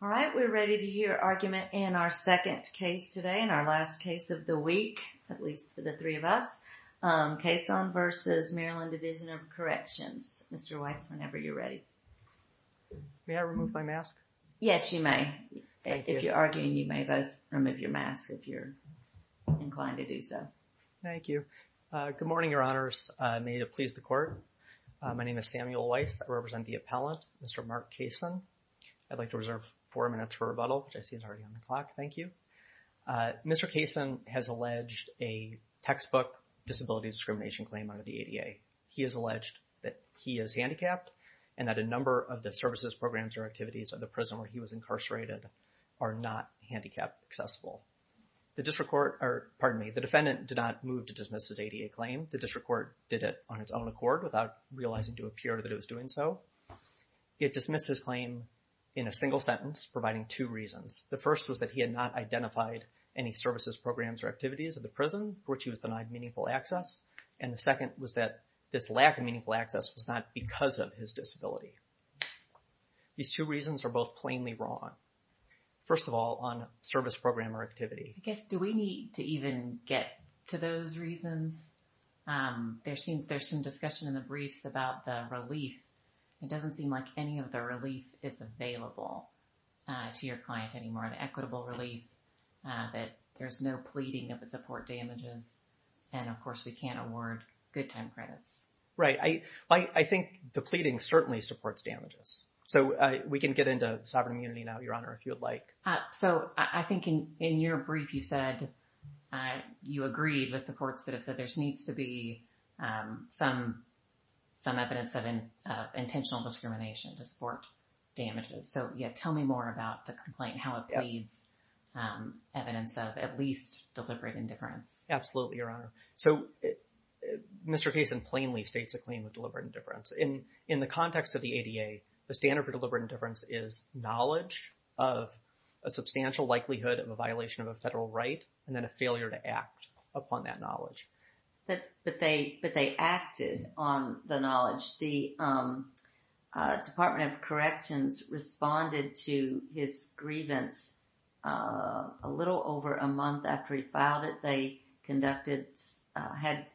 All right, we're ready to hear argument in our second case today, in our last case of the week, at least for the three of us. Cason v. Maryland Division of Corrections. Mr. Weiss, whenever you're ready. May I remove my mask? Yes, you may. Thank you. If you're arguing, you may both remove your mask if you're inclined to do so. Thank you. Good morning, Your Honors. May it please the Court. My name is Samuel Weiss. I represent the appellant, Mr. Mark Cason. I'd like to reserve four minutes for rebuttal, which I see is already on the clock. Thank you. Mr. Cason has alleged a textbook disability discrimination claim under the ADA. He has alleged that he is handicapped and that a number of the services, programs, or activities of the prison where he was incarcerated are not handicap accessible. The District Court, or pardon me, the defendant did not move to dismiss his ADA claim. The District Court did it on its own accord without realizing to appear that it was doing so. It dismissed his claim in a single sentence providing two reasons. The first was that he had not identified any services, programs, or activities of the prison for which he was denied meaningful access. And the second was that this lack of meaningful access was not because of his disability. These two reasons are both plainly wrong. First of all, on service program or activity. I guess do we need to even get to those reasons? There seems there's some discussion in briefs about the relief. It doesn't seem like any of the relief is available to your client anymore. The equitable relief that there's no pleading of the support damages. And of course, we can't award good time credits. Right. I think the pleading certainly supports damages. So we can get into sovereign immunity now, Your Honor, if you would like. So I think in your brief you said that you agreed with the courts that have said there needs to be some evidence of intentional discrimination to support damages. So tell me more about the complaint, how it pleads evidence of at least deliberate indifference. Absolutely, Your Honor. So Mr. Cason plainly states a claim of deliberate indifference. In the context of the ADA, the standard for deliberate indifference is knowledge of a substantial likelihood of a violation of a federal right and then a failure to act upon that knowledge. But they acted on the knowledge. The Department of Corrections responded to his grievance a little over a month after he filed it. They conducted, had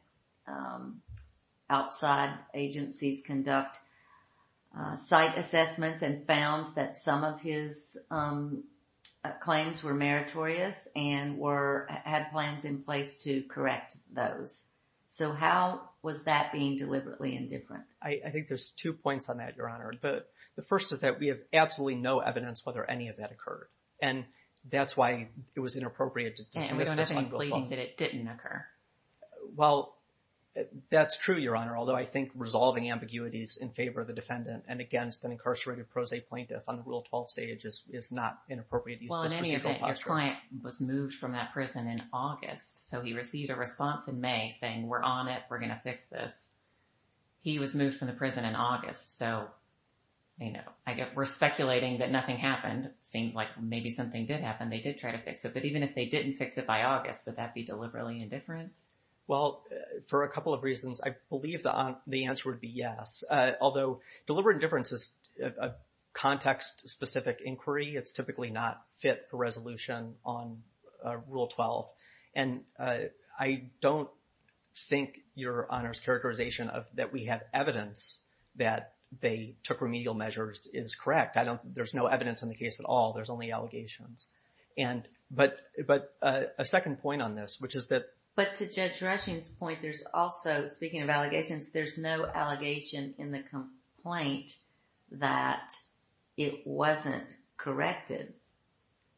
outside agencies conduct site assessments and found that some of his had plans in place to correct those. So how was that being deliberately indifferent? I think there's two points on that, Your Honor. The first is that we have absolutely no evidence whether any of that occurred. And that's why it was inappropriate to dismiss this one. And we don't have any pleading that it didn't occur. Well, that's true, Your Honor. Although I think resolving ambiguities in favor of the defendant and against an incarcerated pro se plaintiff on the Rule 12 stage is not an appropriate use of this procedural posture. Well, in any event, your client was moved from that prison in August. So he received a response in May saying, we're on it. We're going to fix this. He was moved from the prison in August. So, you know, we're speculating that nothing happened. Seems like maybe something did happen. They did try to fix it. But even if they didn't fix it by August, would that be deliberately indifferent? Well, for a couple of reasons, I believe the answer would be yes. Although deliberate indifference is a context-specific inquiry, it's typically not fit for resolution on Rule 12. And I don't think, Your Honor's characterization of that we have evidence that they took remedial measures is correct. I don't, there's no evidence in the case at all. There's only allegations. And, but, but a second point on this, which is that. But to Judge Rushing's point, there's also, speaking of allegations, there's no allegation in the complaint that it wasn't corrected.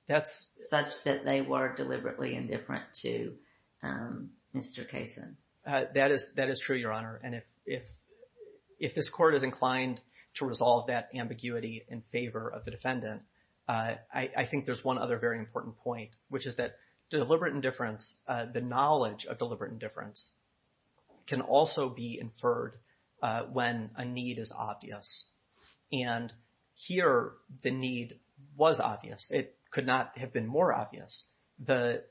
That's such that they were deliberately indifferent to Mr. Kaysen. That is, that is true, Your Honor. And if, if, if this court is inclined to resolve that ambiguity in favor of the defendant, I think there's one other very of deliberate indifference can also be inferred when a need is obvious. And here the need was obvious. It could not have been more obvious.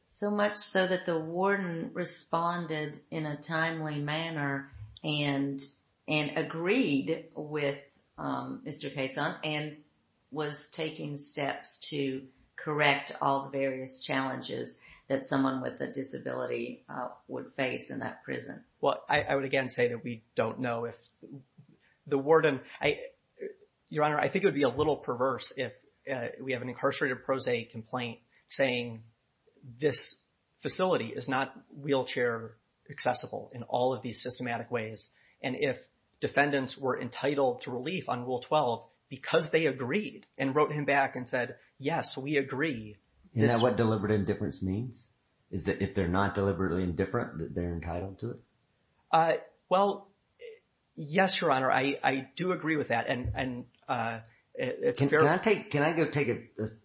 So much so that the warden responded in a timely manner and, and agreed with Mr. Kaysen and was taking steps to correct all the various challenges that someone with a disability would face in that prison. Well, I, I would again say that we don't know if the warden, I, Your Honor, I think it would be a little perverse if we have an incarcerated pro se complaint saying this facility is not wheelchair accessible in all of these systematic ways. And if defendants were entitled to relief on Rule 12 because they agreed and wrote him back and said, yes, we agree. Is that what deliberate indifference means? Is that if they're not deliberately indifferent, that they're entitled to it? Well, yes, Your Honor. I, I do agree with that. And, and can I take, can I go take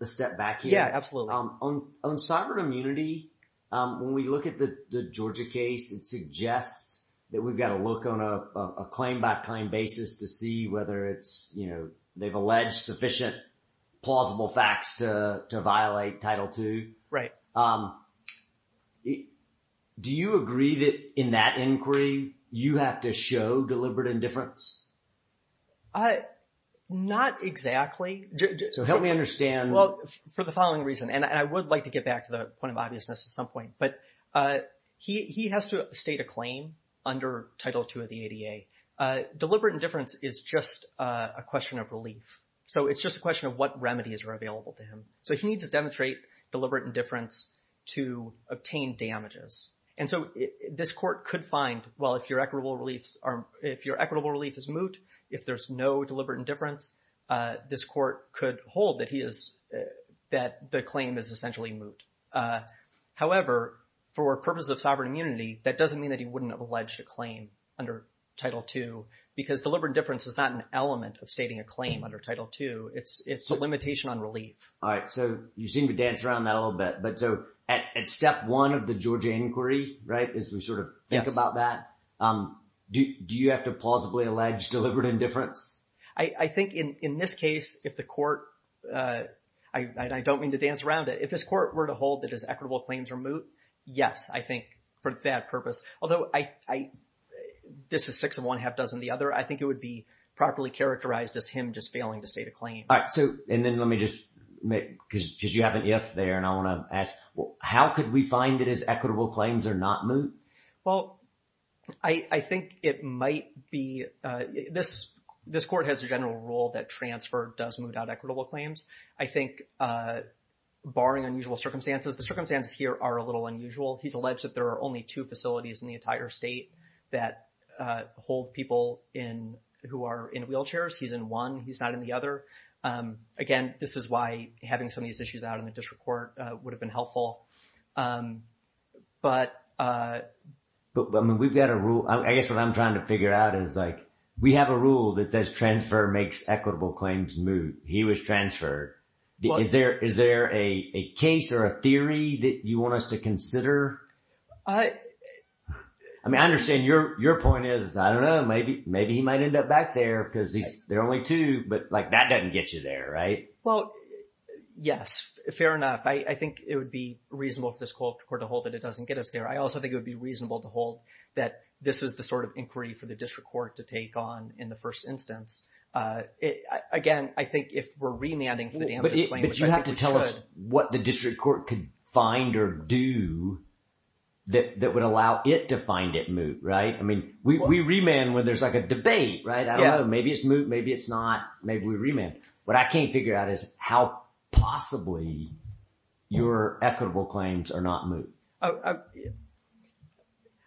a step back here? Yeah, absolutely. On, on sovereign immunity, when we look at the Georgia case, it suggests that we've got to look on a claim by claim basis to see whether it's, you know, they've alleged sufficient plausible facts to, to violate Title II. Right. Do you agree that in that inquiry, you have to show deliberate indifference? Not exactly. So help me understand. Well, for the following reason, and I would like to get back to the point of obviousness at some point, but he, he has to state a claim under Title II of the ADA. Deliberate indifference is just a question of relief. So it's just a question of what remedies are available to him. So he needs to demonstrate deliberate indifference to obtain damages. And so this court could find, well, if your equitable reliefs are, if your equitable relief is moot, if there's no deliberate indifference, this court could hold that he is, that the claim is essentially moot. However, for purposes of sovereign immunity, that doesn't mean that he wouldn't have alleged a claim under Title II because deliberate indifference is not an limitation on relief. All right. So you seem to dance around that a little bit, but so at, at step one of the Georgia inquiry, right, as we sort of think about that, do, do you have to plausibly allege deliberate indifference? I, I think in, in this case, if the court, I, I don't mean to dance around it. If this court were to hold that his equitable claims are moot, yes, I think for that purpose. Although I, I, this is six of one, half dozen of the other. I think it would be properly characterized as him just failing to state a claim. All right. So, and then let me just make, because, because you haven't yet there and I want to ask, well, how could we find that his equitable claims are not moot? Well, I, I think it might be this, this court has a general rule that transfer does moot out equitable claims. I think barring unusual circumstances, the circumstances here are a little unusual. He's alleged that there are only two facilities in the entire state that hold people in, who are in wheelchairs. He's in one, he's not in the other. Again, this is why having some of these issues out in the district court would have been helpful. But, but I mean, we've got a rule, I guess what I'm trying to figure out is like, we have a rule that says transfer makes equitable claims moot. He was transferred. Is there, is there a case or a theory that you want us to consider? I mean, I understand your, your point is, I don't know, maybe, maybe he might end up back there because he's, there are only two, but like that doesn't get you there, right? Well, yes. Fair enough. I think it would be reasonable for this court to hold that it doesn't get us there. I also think it would be reasonable to hold that this is the sort of inquiry for the district court to take on in the first instance. Again, I think if we're remanding But you have to tell us what the district court could find or do that, that would allow it to find it moot, right? I mean, we, we remand when there's like a debate, right? I don't know, maybe it's moot, maybe it's not, maybe we remand. What I can't figure out is how possibly your equitable claims are not moot.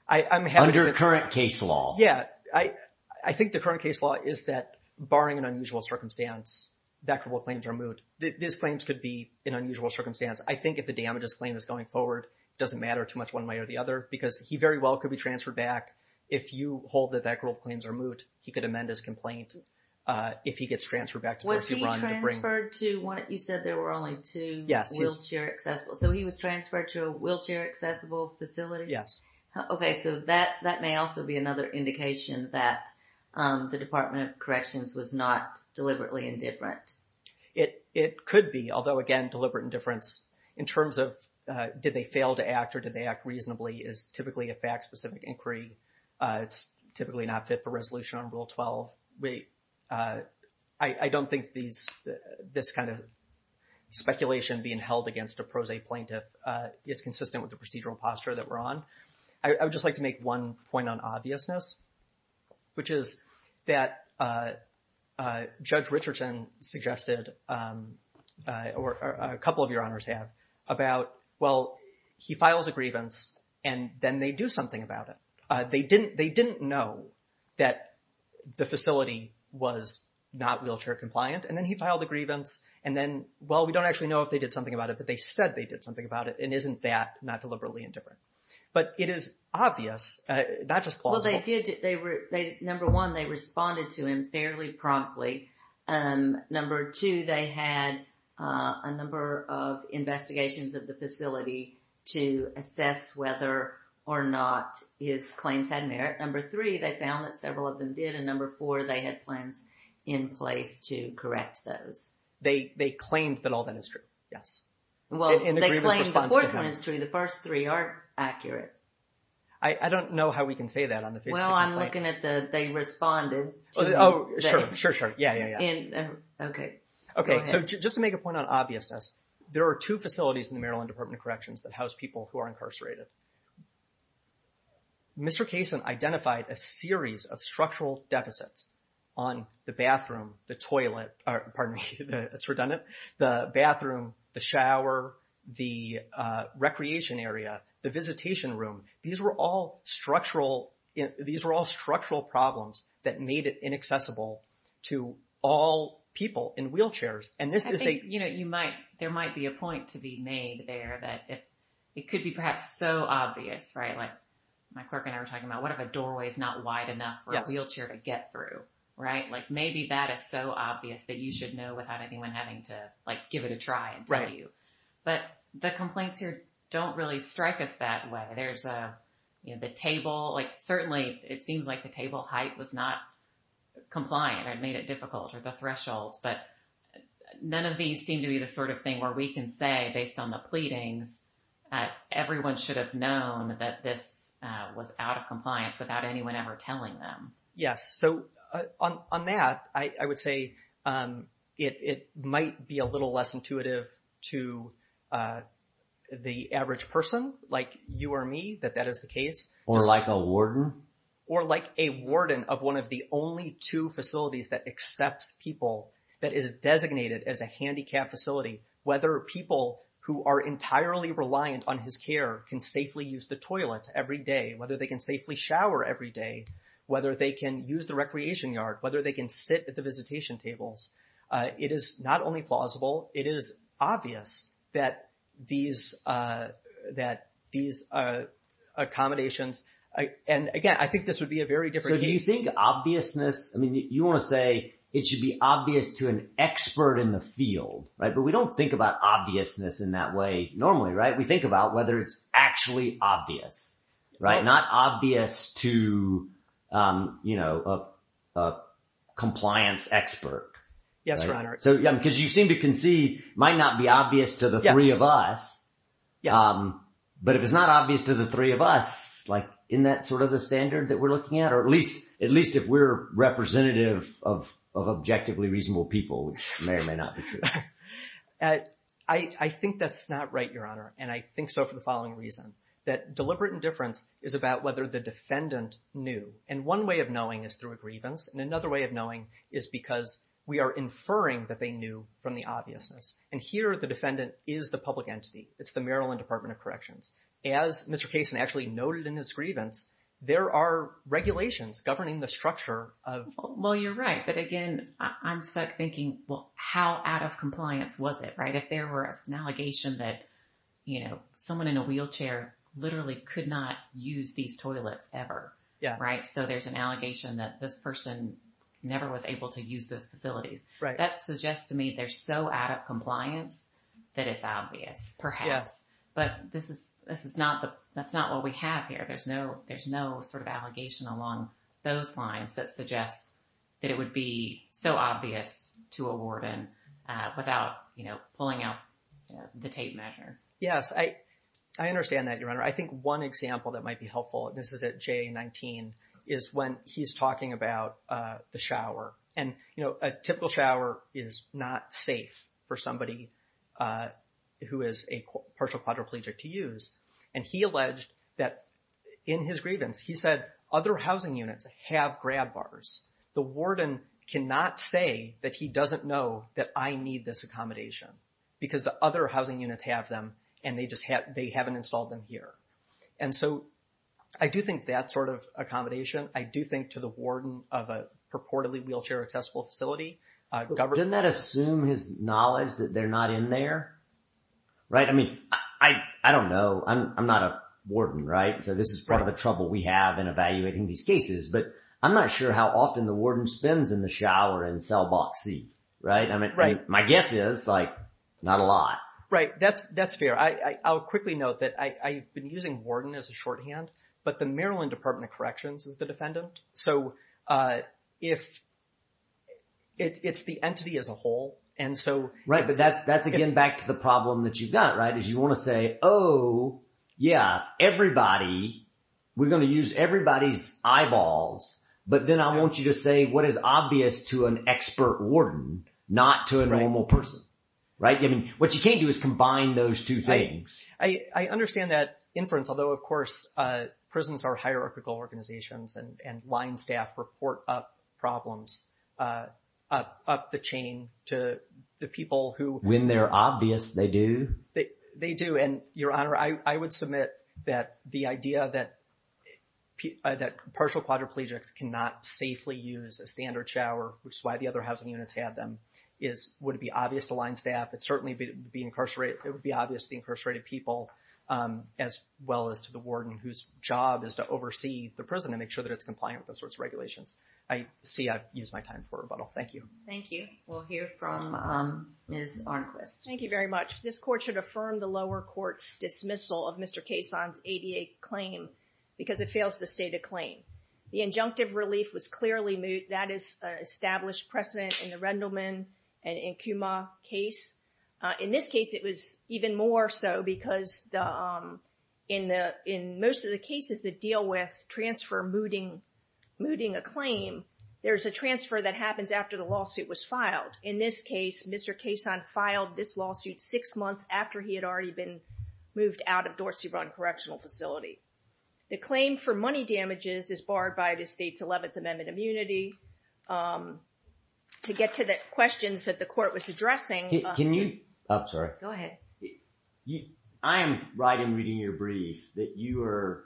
Under current case law. Yeah. I, I think the current case law is that this claims could be an unusual circumstance. I think if the damages claim is going forward, it doesn't matter too much one way or the other because he very well could be transferred back. If you hold that that group claims are moot, he could amend his complaint. If he gets transferred back to Pursuit Run. Was he transferred to one, you said there were only two wheelchair accessible, so he was transferred to a wheelchair accessible facility? Yes. Okay. So that, that may also be another indication that the Department of Corrections was not deliberately indifferent. It, it could be, although again, deliberate indifference in terms of did they fail to act or did they act reasonably is typically a fact-specific inquiry. It's typically not fit for resolution on Rule 12. We, I, I don't think these, this kind of speculation being held against a prose plaintiff is consistent with the procedural posture that we're on. I would just like to make one point on obviousness, which is that Judge Richardson suggested or a couple of your honors have about, well, he files a grievance and then they do something about it. They didn't, they didn't know that the facility was not wheelchair compliant and then he filed a grievance and then, well, we don't actually know if they did something about it, but they said they did something about it and isn't that not deliberately indifferent? But it is obvious, not just plausible. Well, they did, they were, they, number one, they responded to him fairly promptly. Number two, they had a number of investigations of the facility to assess whether or not his claims had merit. Number three, they found that several of them did and number four, they had plans in place to correct those. They, they claimed that all that yes. Well, they claimed the court ministry, the first three are accurate. I, I don't know how we can say that on the Facebook. Well, I'm looking at the, they responded. Oh, sure, sure, sure. Yeah, yeah, yeah. Okay. Okay. So just to make a point on obviousness, there are two facilities in the Maryland Department of Corrections that house people who are incarcerated. Mr. Kaysen identified a series of structural deficits on the bathroom, the toilet, or pardon me, it's redundant, the bathroom, the shower, the recreation area, the visitation room. These were all structural, these were all structural problems that made it inaccessible to all people in wheelchairs. And this is a- I think, you know, you might, there might be a point to be made there that it could be perhaps so obvious, right? Like my clerk and I were talking about what if a doorway is not wide enough for a wheelchair to get through, right? Like maybe that is so obvious that you should know without anyone having to like give it a try and tell you. But the complaints here don't really strike us that way. There's a, you know, the table, like certainly it seems like the table height was not compliant or made it difficult or the thresholds, but none of these seem to be the sort of thing where we can say based on the pleadings that everyone should have known that this was out of compliance without anyone ever telling them. Yes. So on, on that, I would say it might be a little less intuitive to the average person like you or me that that is the case. Or like a warden. Or like a warden of one of the only two facilities that accepts people that is designated as a handicapped facility. Whether people who are entirely reliant on his care can safely use the toilet every day, whether they can safely shower every day, whether they can use the recreation yard, whether they can sit at the visitation tables. It is not only plausible, it is obvious that these, that these accommodations, and again, I think this would be a very different case. So do you think obviousness, I mean, you want to say it should be obvious to an expert in the field, right? But we don't think about obviousness in that way normally, right? We think about whether it's actually obvious, right? Not obvious to, you know, a compliance expert. Yes, Your Honor. So, because you seem to concede might not be obvious to the three of us. Yes. But if it's not obvious to the three of us, like in that sort of the standard that we're looking at, or at least, at least if we're representative of, of objectively reasonable people, which may or may not be true. I, I think that's not right, Your Honor. And I think so for the following reason, that deliberate indifference is about whether the defendant knew. And one way of knowing is through a grievance. And another way of knowing is because we are inferring that they knew from the obviousness. And here the defendant is the public entity. It's the Maryland Department of Corrections. As Mr. Kaysen actually noted in his grievance, there are regulations governing the structure of. Well, you're right. But again, I'm stuck thinking, well, how out of compliance was it, right? If there were an allegation that, you know, someone in a wheelchair literally could not use these toilets ever. Yeah. Right. So there's an allegation that this person never was able to use those facilities. Right. That suggests to me they're so out of compliance that it's obvious perhaps. But this is, this is not the, that's not what we have here. There's no, there's no sort of allegation along those lines that suggests that it would be so obvious to a warden without, you know, pulling out the tape measure. Yes. I, I understand that, Your Honor. I think one example that might be helpful, and this is at JA-19, is when he's talking about the shower. And, you know, a typical shower is not safe for somebody who is a partial quadriplegic to use. And he alleged that in his grievance, he said other housing units have grab bars. The warden cannot say that he doesn't know that I need this accommodation because the other housing units have them and they just have, they haven't installed them here. And so I do think that sort of accommodation, I do think to the warden of a purportedly wheelchair accessible facility, government. Didn't that assume his knowledge that they're not in there? Right. I mean, I, I don't know. I'm, I'm not a warden, right? So this is part of the trouble we have in evaluating these cases, but I'm not sure how often the warden spins in the shower in cell block C, right? I mean, my guess is like not a lot. Right. That's, that's fair. I, I'll quickly note that I, I've been using warden as a shorthand, but the Maryland Department of Corrections is the defendant. So if it's, it's the entity as a whole. And so. Right. But that's, that's again, back to the problem that you've got, right? Is you want to say, oh yeah, everybody, we're going to use everybody's eyeballs, but then I want you to say what is obvious to an expert warden, not to a normal person, right? I mean, what you can't do is combine those two things. I, I understand that inference, although of course prisons are hierarchical organizations and, and line staff report up problems up, up the chain to the people who. When they're obvious, they do. They do. And Your Honor, I would submit that the idea that, that partial quadriplegics cannot safely use a standard shower, which is why the other housing units have them, is, would it be obvious to line staff? It certainly would be incarcerated. It would be obvious to the incarcerated people as well as to the warden whose job is to oversee the prison and make sure that it's compliant with those sorts of regulations. I see I've used my time for rebuttal. Thank you. Thank you. We'll hear from Ms. Arnquist. Thank you very much. This court should affirm the lower court's dismissal of Mr. Cason's ADA claim because it fails to state a claim. The injunctive relief was clearly moot. That is established precedent in the Rendleman and Nkuma case. In this case, it was even more so because the, in the, in most of the cases that deal with transfer mooting, mooting a claim, there's a transfer that happens after the lawsuit was filed. In this case, Mr. Cason filed this lawsuit six months after he had already been moved out of Dorsey Run Correctional Facility. The claim for money damages is barred by the state's 11th Amendment immunity. To get to the questions that the court was addressing. Can you, oh, sorry. Go ahead. I am right in reading your brief that you are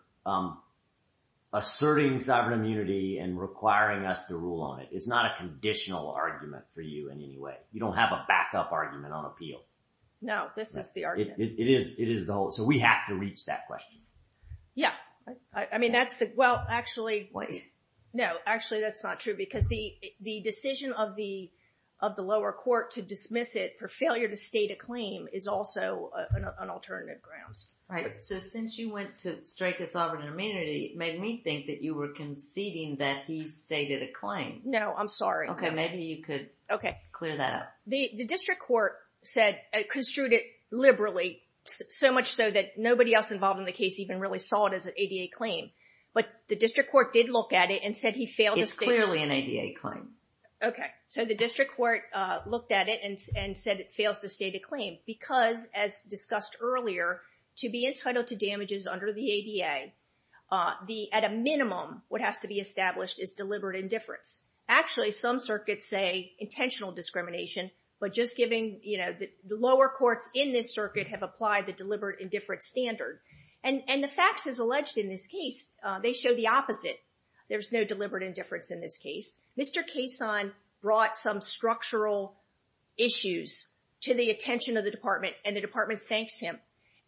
asserting sovereign immunity and requiring us to rule on it. It's not a conditional argument for you in any way. You don't have a backup argument on appeal. No, this is the argument. It is, it is the whole, so we have to reach that question. Yeah. I mean, that's the, well, actually, no, actually that's not true because the, the decision of the, of the lower court to dismiss it for failure to state a claim is also an alternative grounds. Right. So since you went to, straight to sovereign immunity, made me think that you were conceding that he stated a claim. No, I'm sorry. Okay. Maybe you could clear that up. The district court said, construed it liberally so much so that nobody else involved in the case even really saw it as an ADA claim. But the district court did look at it and said he failed to state a claim. It's clearly an ADA claim. Okay. So the district court looked at it and said it fails to state a claim because as discussed earlier, to be entitled to damages under the ADA, the, at a minimum, what has to be established is deliberate indifference. Actually, some circuits say intentional discrimination, but just giving, you know, the lower courts in this circuit have applied the deliberate indifference standard. And, and the facts as alleged in this case, they show the opposite. There's no deliberate indifference in this case. Mr. Cason brought some structural issues to the attention of the department and the department thanks him.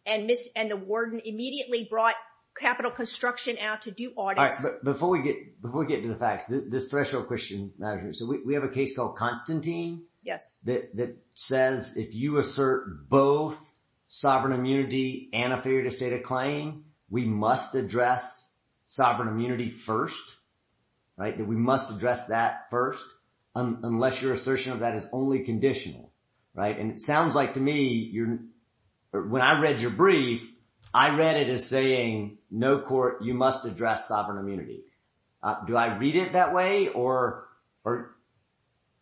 And Ms., and the warden immediately brought capital construction out to do audits. All right. But before we get, before we get into the facts, this threshold question matters. So we have a case called Constantine. Yes. That, that says if you assert both sovereign immunity and a failure to state a claim, we must address sovereign immunity first, right? That we must address that first, unless your assertion of that is only conditional, right? And it sounds like to me, you're, when I read your brief, I read it as saying, no court, you must address sovereign immunity. Do I read it that way or, or,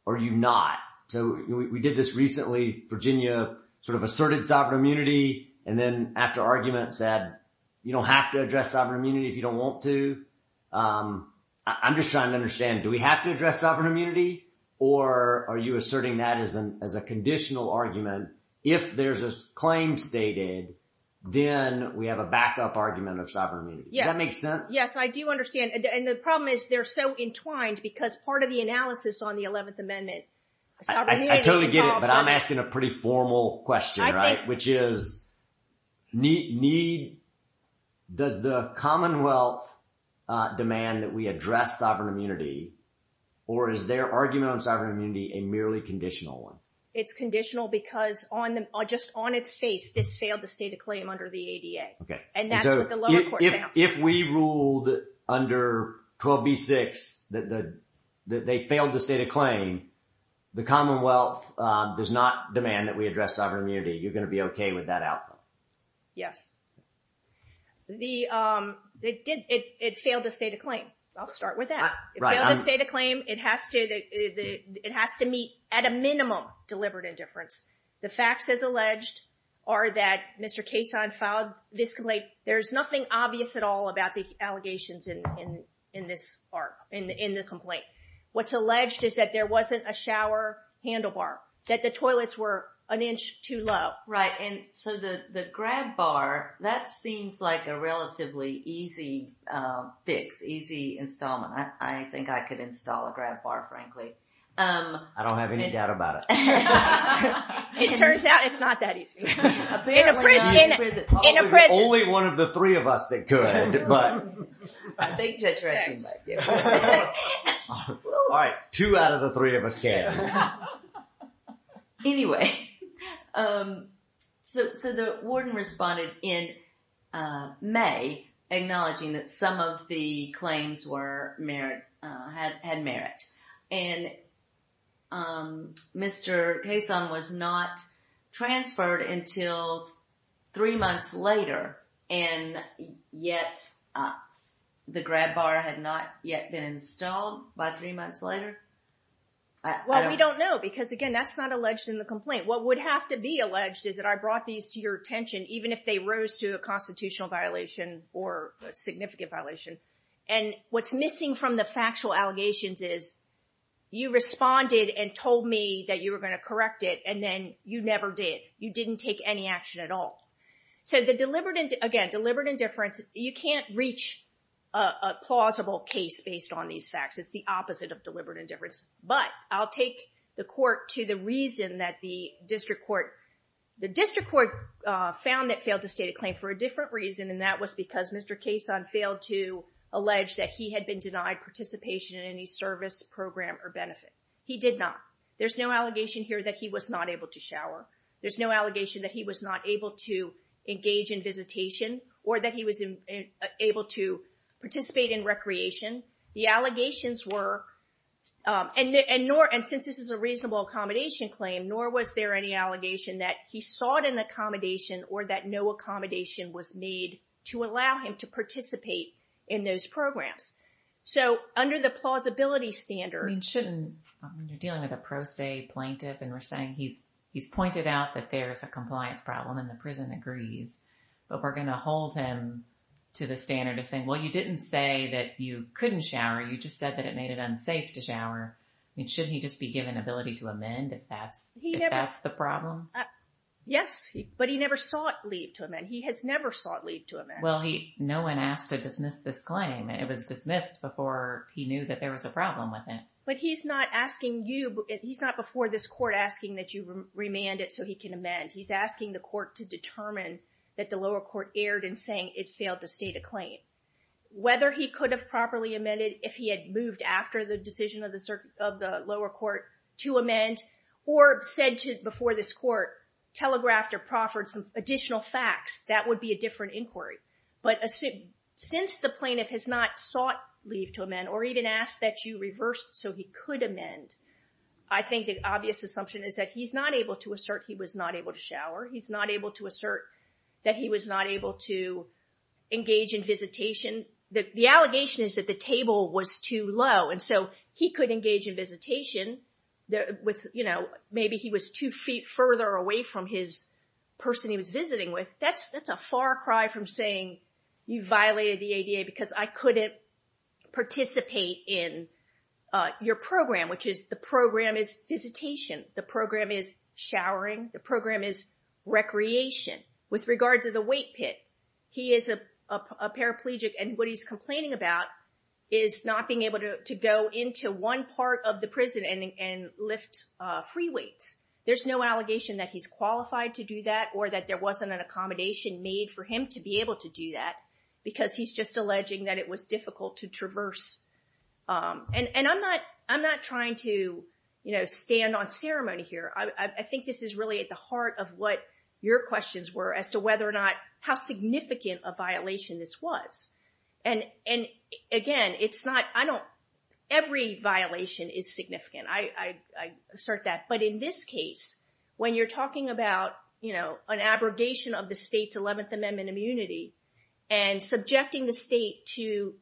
or you not? So we did this recently, Virginia sort of asserted sovereign immunity. And then after argument said, you don't have to address sovereign immunity if you don't want to. I'm just trying to understand, do we have to address sovereign immunity or are you asserting that as an, as a conditional argument? If there's a claim stated, then we have a backup argument of sovereign immunity. Does that make sense? Yes. I do understand. And the problem is they're so entwined because part of the analysis on the 11th amendment. I totally get it, but I'm asking a pretty formal question, right? Which is need, does the Commonwealth demand that we address sovereign immunity or is their argument on sovereign immunity a merely conditional one? It's conditional because on the, just on its face, this failed to state a claim under the ADA. Okay. And that's what the lower court found. If we ruled under 12B6 that the, that they failed to state a claim, the Commonwealth does not demand that we address sovereign immunity. You're going to be okay with that outcome? Yes. The, it did, it, it failed to state a claim. I'll start with that. It failed to state a claim. It has to, it has to meet at a minimum deliberate indifference. The facts as alleged are that Mr. Cason filed this complaint. There's nothing obvious at all about the allegations in, in, in this arc, in the, in the complaint. What's alleged is that there wasn't a shower handlebar, that the toilets were an inch too low. Right. And so the, the grab bar, that seems like a relatively easy fix, easy installment. I think I could install a grab bar, frankly. I don't have any doubt about it. It turns out it's not that easy. In a prison. Only one of the three of us that could, but. I think Judge Rushing might get one. All right. Two out of the three of us can. Anyway, so, so the warden responded in May, acknowledging that some of the claims were merit, had, had merit. And Mr. Cason was not transferred until three months later. And yet, the grab bar had not yet been installed by three months later? Well, we don't know, because again, that's not alleged in the complaint. What would have to be alleged is that I brought these to your attention, even if they rose to a constitutional violation or a significant violation. And what's missing from the factual allegations is, you responded and told me that you were going to correct it, and then you never did. You didn't take any action at all. So the deliberate, again, deliberate indifference, you can't reach a plausible case based on these facts. It's the opposite of deliberate indifference. But I'll take the court to the reason that the district court, the district court found that failed to state a claim for a different reason. And that was because Mr. Cason failed to allege that he had been denied participation in any service program or benefit. He did not. There's no allegation here that he was not able to shower. There's no allegation that he was not to engage in visitation or that he was able to participate in recreation. The allegations were, and since this is a reasonable accommodation claim, nor was there any allegation that he sought an accommodation or that no accommodation was made to allow him to participate in those programs. So under the plausibility standard- I mean, shouldn't, you're dealing with a pro se plaintiff and we're saying he's pointed out that there's a compliance problem and the prison agrees, but we're going to hold him to the standard of saying, well, you didn't say that you couldn't shower. You just said that it made it unsafe to shower. I mean, shouldn't he just be given ability to amend if that's the problem? Yes, but he never sought leave to amend. He has never sought leave to amend. Well, no one asked to dismiss this claim. It was dismissed before he knew that there was a problem with it. But he's not asking you, he's not before this court asking that you remand it so he can amend. He's asking the court to determine that the lower court erred in saying it failed to state a claim. Whether he could have properly amended if he had moved after the decision of the lower court to amend or said before this court, telegraphed or proffered some additional facts, that would be a different inquiry. But since the plaintiff has not sought leave to amend or even asked that you reverse so he could amend, I think the obvious assumption is that he's not able to assert he was not able to shower. He's not able to assert that he was not able to engage in visitation. The allegation is that the table was too low. And so he could engage in visitation with, you know, maybe he was two feet further away from his person he was visiting with. That's a far cry from saying you violated the ADA because I couldn't participate in your program, which is the program is visitation. The program is showering. The program is recreation. With regard to the weight pit, he is a paraplegic and what he's complaining about is not being able to go into one part of the prison and lift free weights. There's no accommodation made for him to be able to do that because he's just alleging that it was difficult to traverse. And I'm not trying to, you know, stand on ceremony here. I think this is really at the heart of what your questions were as to whether or not how significant a violation this was. And again, it's not, I don't, every violation is significant. I assert that. But in this case, when you're talking about, you know, an abrogation of the state's 11th Amendment immunity and subjecting the state to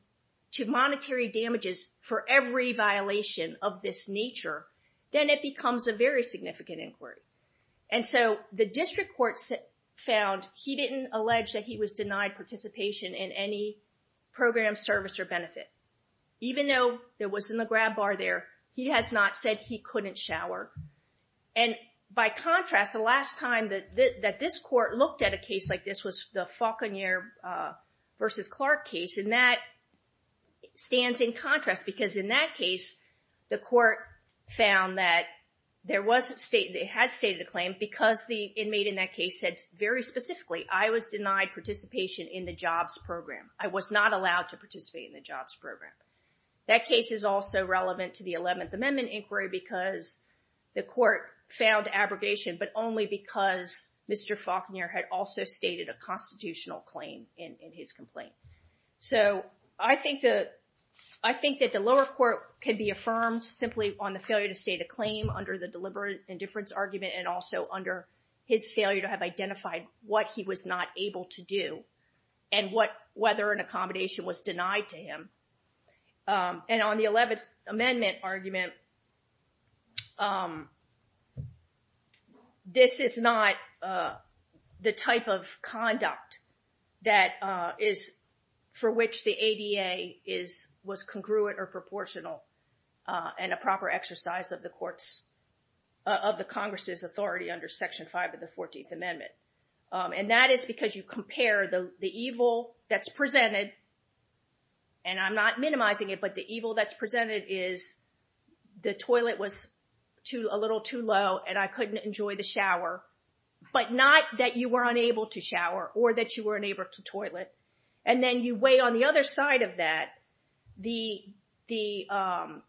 monetary damages for every violation of this nature, then it becomes a very significant inquiry. And so the district court found he didn't allege that he was denied participation in any program, service, or benefit. Even though there wasn't a grab bar there, he has not said he couldn't shower. And by contrast, the last time that this court looked at a case like this was the Faulkner versus Clark case. And that stands in contrast because in that case, the court found that there was a state, they had stated a claim because the inmate in that case said very specifically, I was denied participation in the jobs program. I was not allowed to participate in the jobs program. That case is also relevant to the 11th Amendment inquiry because the court found abrogation, but only because Mr. Faulkner had also stated a constitutional claim in his complaint. So I think that the lower court could be affirmed simply on the failure to state a claim under the deliberate indifference argument, and also under his failure to have identified what he was not able to do and whether an accommodation was denied to him. And on the 11th Amendment argument, this is not the type of conduct that is for which the ADA was congruent or proportional and a proper exercise of the courts, of the Congress's authority under Section 5 of the 14th Amendment. And that is because you compare the evil that's presented, and I'm not minimizing it, but the evil that's presented is the toilet was a little too low and I couldn't enjoy the shower, but not that you were unable to shower or that you were unable to toilet. And then you weigh on the other side of that, the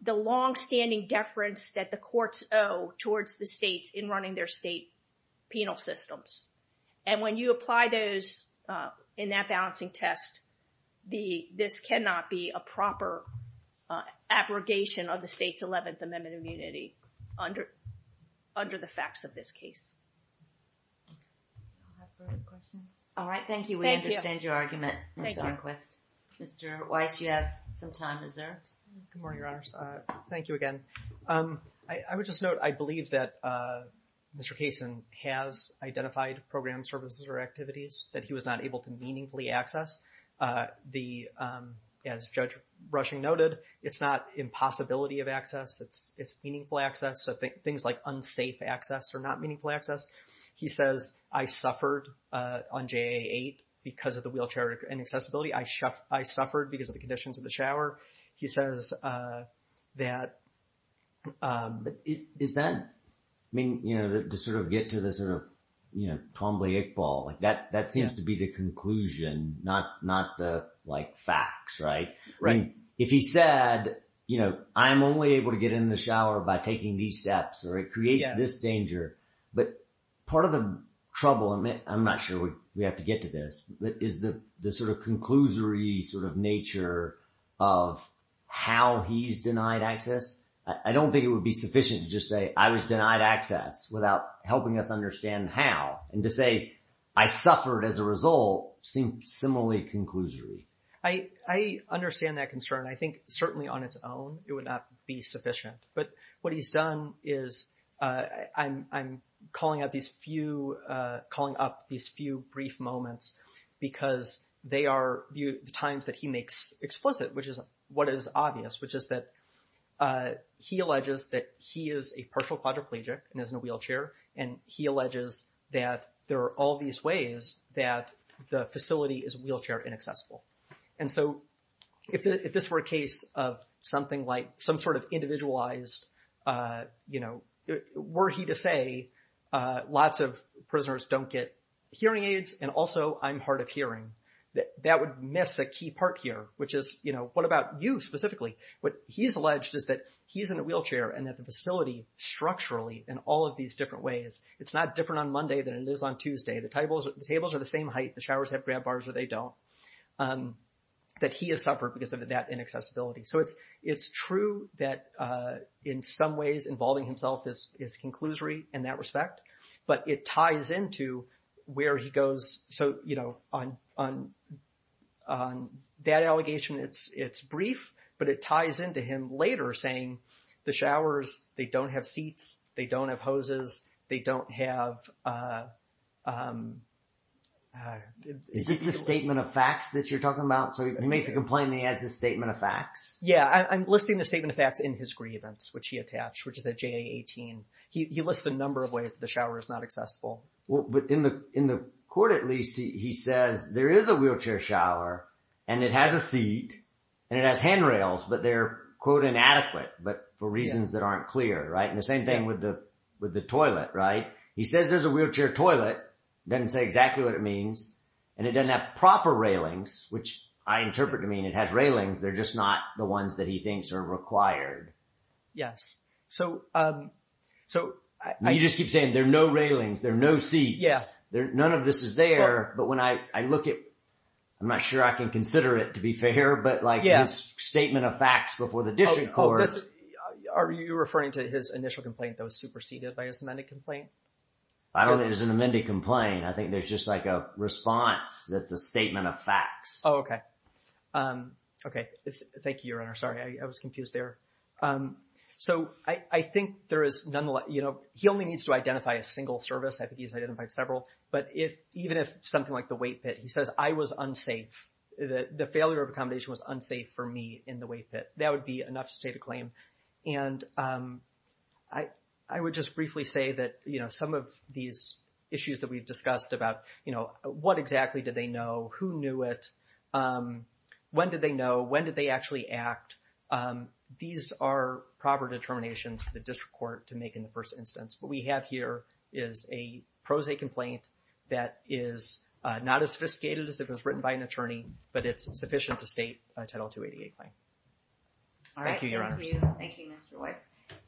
longstanding deference that the courts owe towards the states in running their state penal systems. And when you apply those in that balancing test, this cannot be a proper abrogation of the state's 11th Amendment immunity under the facts of this case. I have further questions. All right. Thank you. We understand your argument, Mr. Enquist. Mr. Weiss, you have some time reserved. Good morning, I would just note, I believe that Mr. Kaysen has identified program services or activities that he was not able to meaningfully access. As Judge Rushing noted, it's not impossibility of access, it's meaningful access. So things like unsafe access are not meaningful access. He says, I suffered on JA-8 because of the wheelchair and accessibility. I suffered because of the conditions of the shower. He says that... Is that, I mean, you know, to sort of get to the sort of, you know, Twombly Iqbal, like that seems to be the conclusion, not the like facts, right? Right. If he said, you know, I'm only able to get in the shower by taking these steps or it creates this danger. But part of the trouble, I'm not sure we have to get to this, is the sort of conclusory sort of nature of how he's denied access. I don't think it would be sufficient to just say I was denied access without helping us understand how. And to say, I suffered as a result seems similarly conclusory. I understand that concern. I think certainly on its own, it would not be sufficient. But what he's done is I'm calling out these few, calling up these few brief moments because they are the times that he makes explicit, which is what is obvious, which is that he alleges that he is a partial quadriplegic and is in a wheelchair. And he alleges that there are all these ways that the facility is wheelchair inaccessible. And so if this were a case of something like some sort of individualized, you know, were he to say lots of prisoners don't get hearing aids and also I'm hard of hearing, that would miss a key part here, which is, you know, what about you specifically? What he's alleged is that he's in a wheelchair and that the facility structurally in all of these different ways, it's not different on Monday than it is on Tuesday. The tables are the same height. The showers have grab bars or they don't. That he has suffered because of that inaccessibility. So it's true that in some ways, involving himself is, is conclusory in that respect, but it ties into where he goes. So, you know, on, on, on that allegation, it's, it's brief, but it ties into him later saying the showers, they don't have seats. They don't have hoses. They don't have, is this the statement of facts that you're talking about? So he makes the complaint, he has the statement of facts. Yeah. I'm listing the statement of facts in his grievance, which he attached, which is at JA 18. He lists a number of ways that the shower is not accessible. Well, but in the, in the court, at least he says there is a wheelchair shower and it has a seat and it has handrails, but they're quote inadequate, but for reasons that aren't clear, right? And the same thing with the, with the toilet, right? He says there's a wheelchair toilet, doesn't say exactly what it means. And it doesn't have proper railings, which I interpret I mean, it has railings. They're just not the ones that he thinks are required. Yes. So, so you just keep saying there are no railings. There are no seats. None of this is there. But when I look at, I'm not sure I can consider it to be fair, but like this statement of facts before the district court. Are you referring to his initial complaint that was superseded by his amended complaint? I don't think it was an amended complaint. I think there's just like a response that's a statement of facts. Oh, okay. Okay. Thank you, your honor. Sorry. I was confused there. So I, I think there is nonetheless, you know, he only needs to identify a single service. I think he's identified several, but if, even if something like the weight pit, he says I was unsafe, the failure of accommodation was unsafe for me in the weight pit, that would be enough to state a claim. And I, I would just briefly say that, you know, some of these issues that we've discussed about, you know, what exactly did they know? Who knew it? When did they know? When did they actually act? These are proper determinations for the district court to make in the first instance. What we have here is a pro se complaint that is not as sophisticated as if it was written by an attorney, but it's sufficient to state a Title 288 claim. All right. Thank you, your honor. Thank you, Mr. White.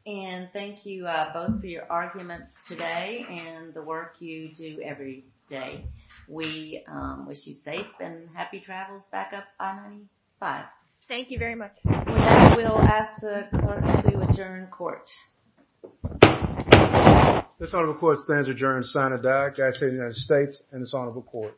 And thank you both for your arguments today and the work you do every day. We wish you safe and happy travels back up I-95. Thank you very much. We'll ask the court to adjourn court. This honorable court stands adjourned. Sinead Agassi, United States and this honorable court.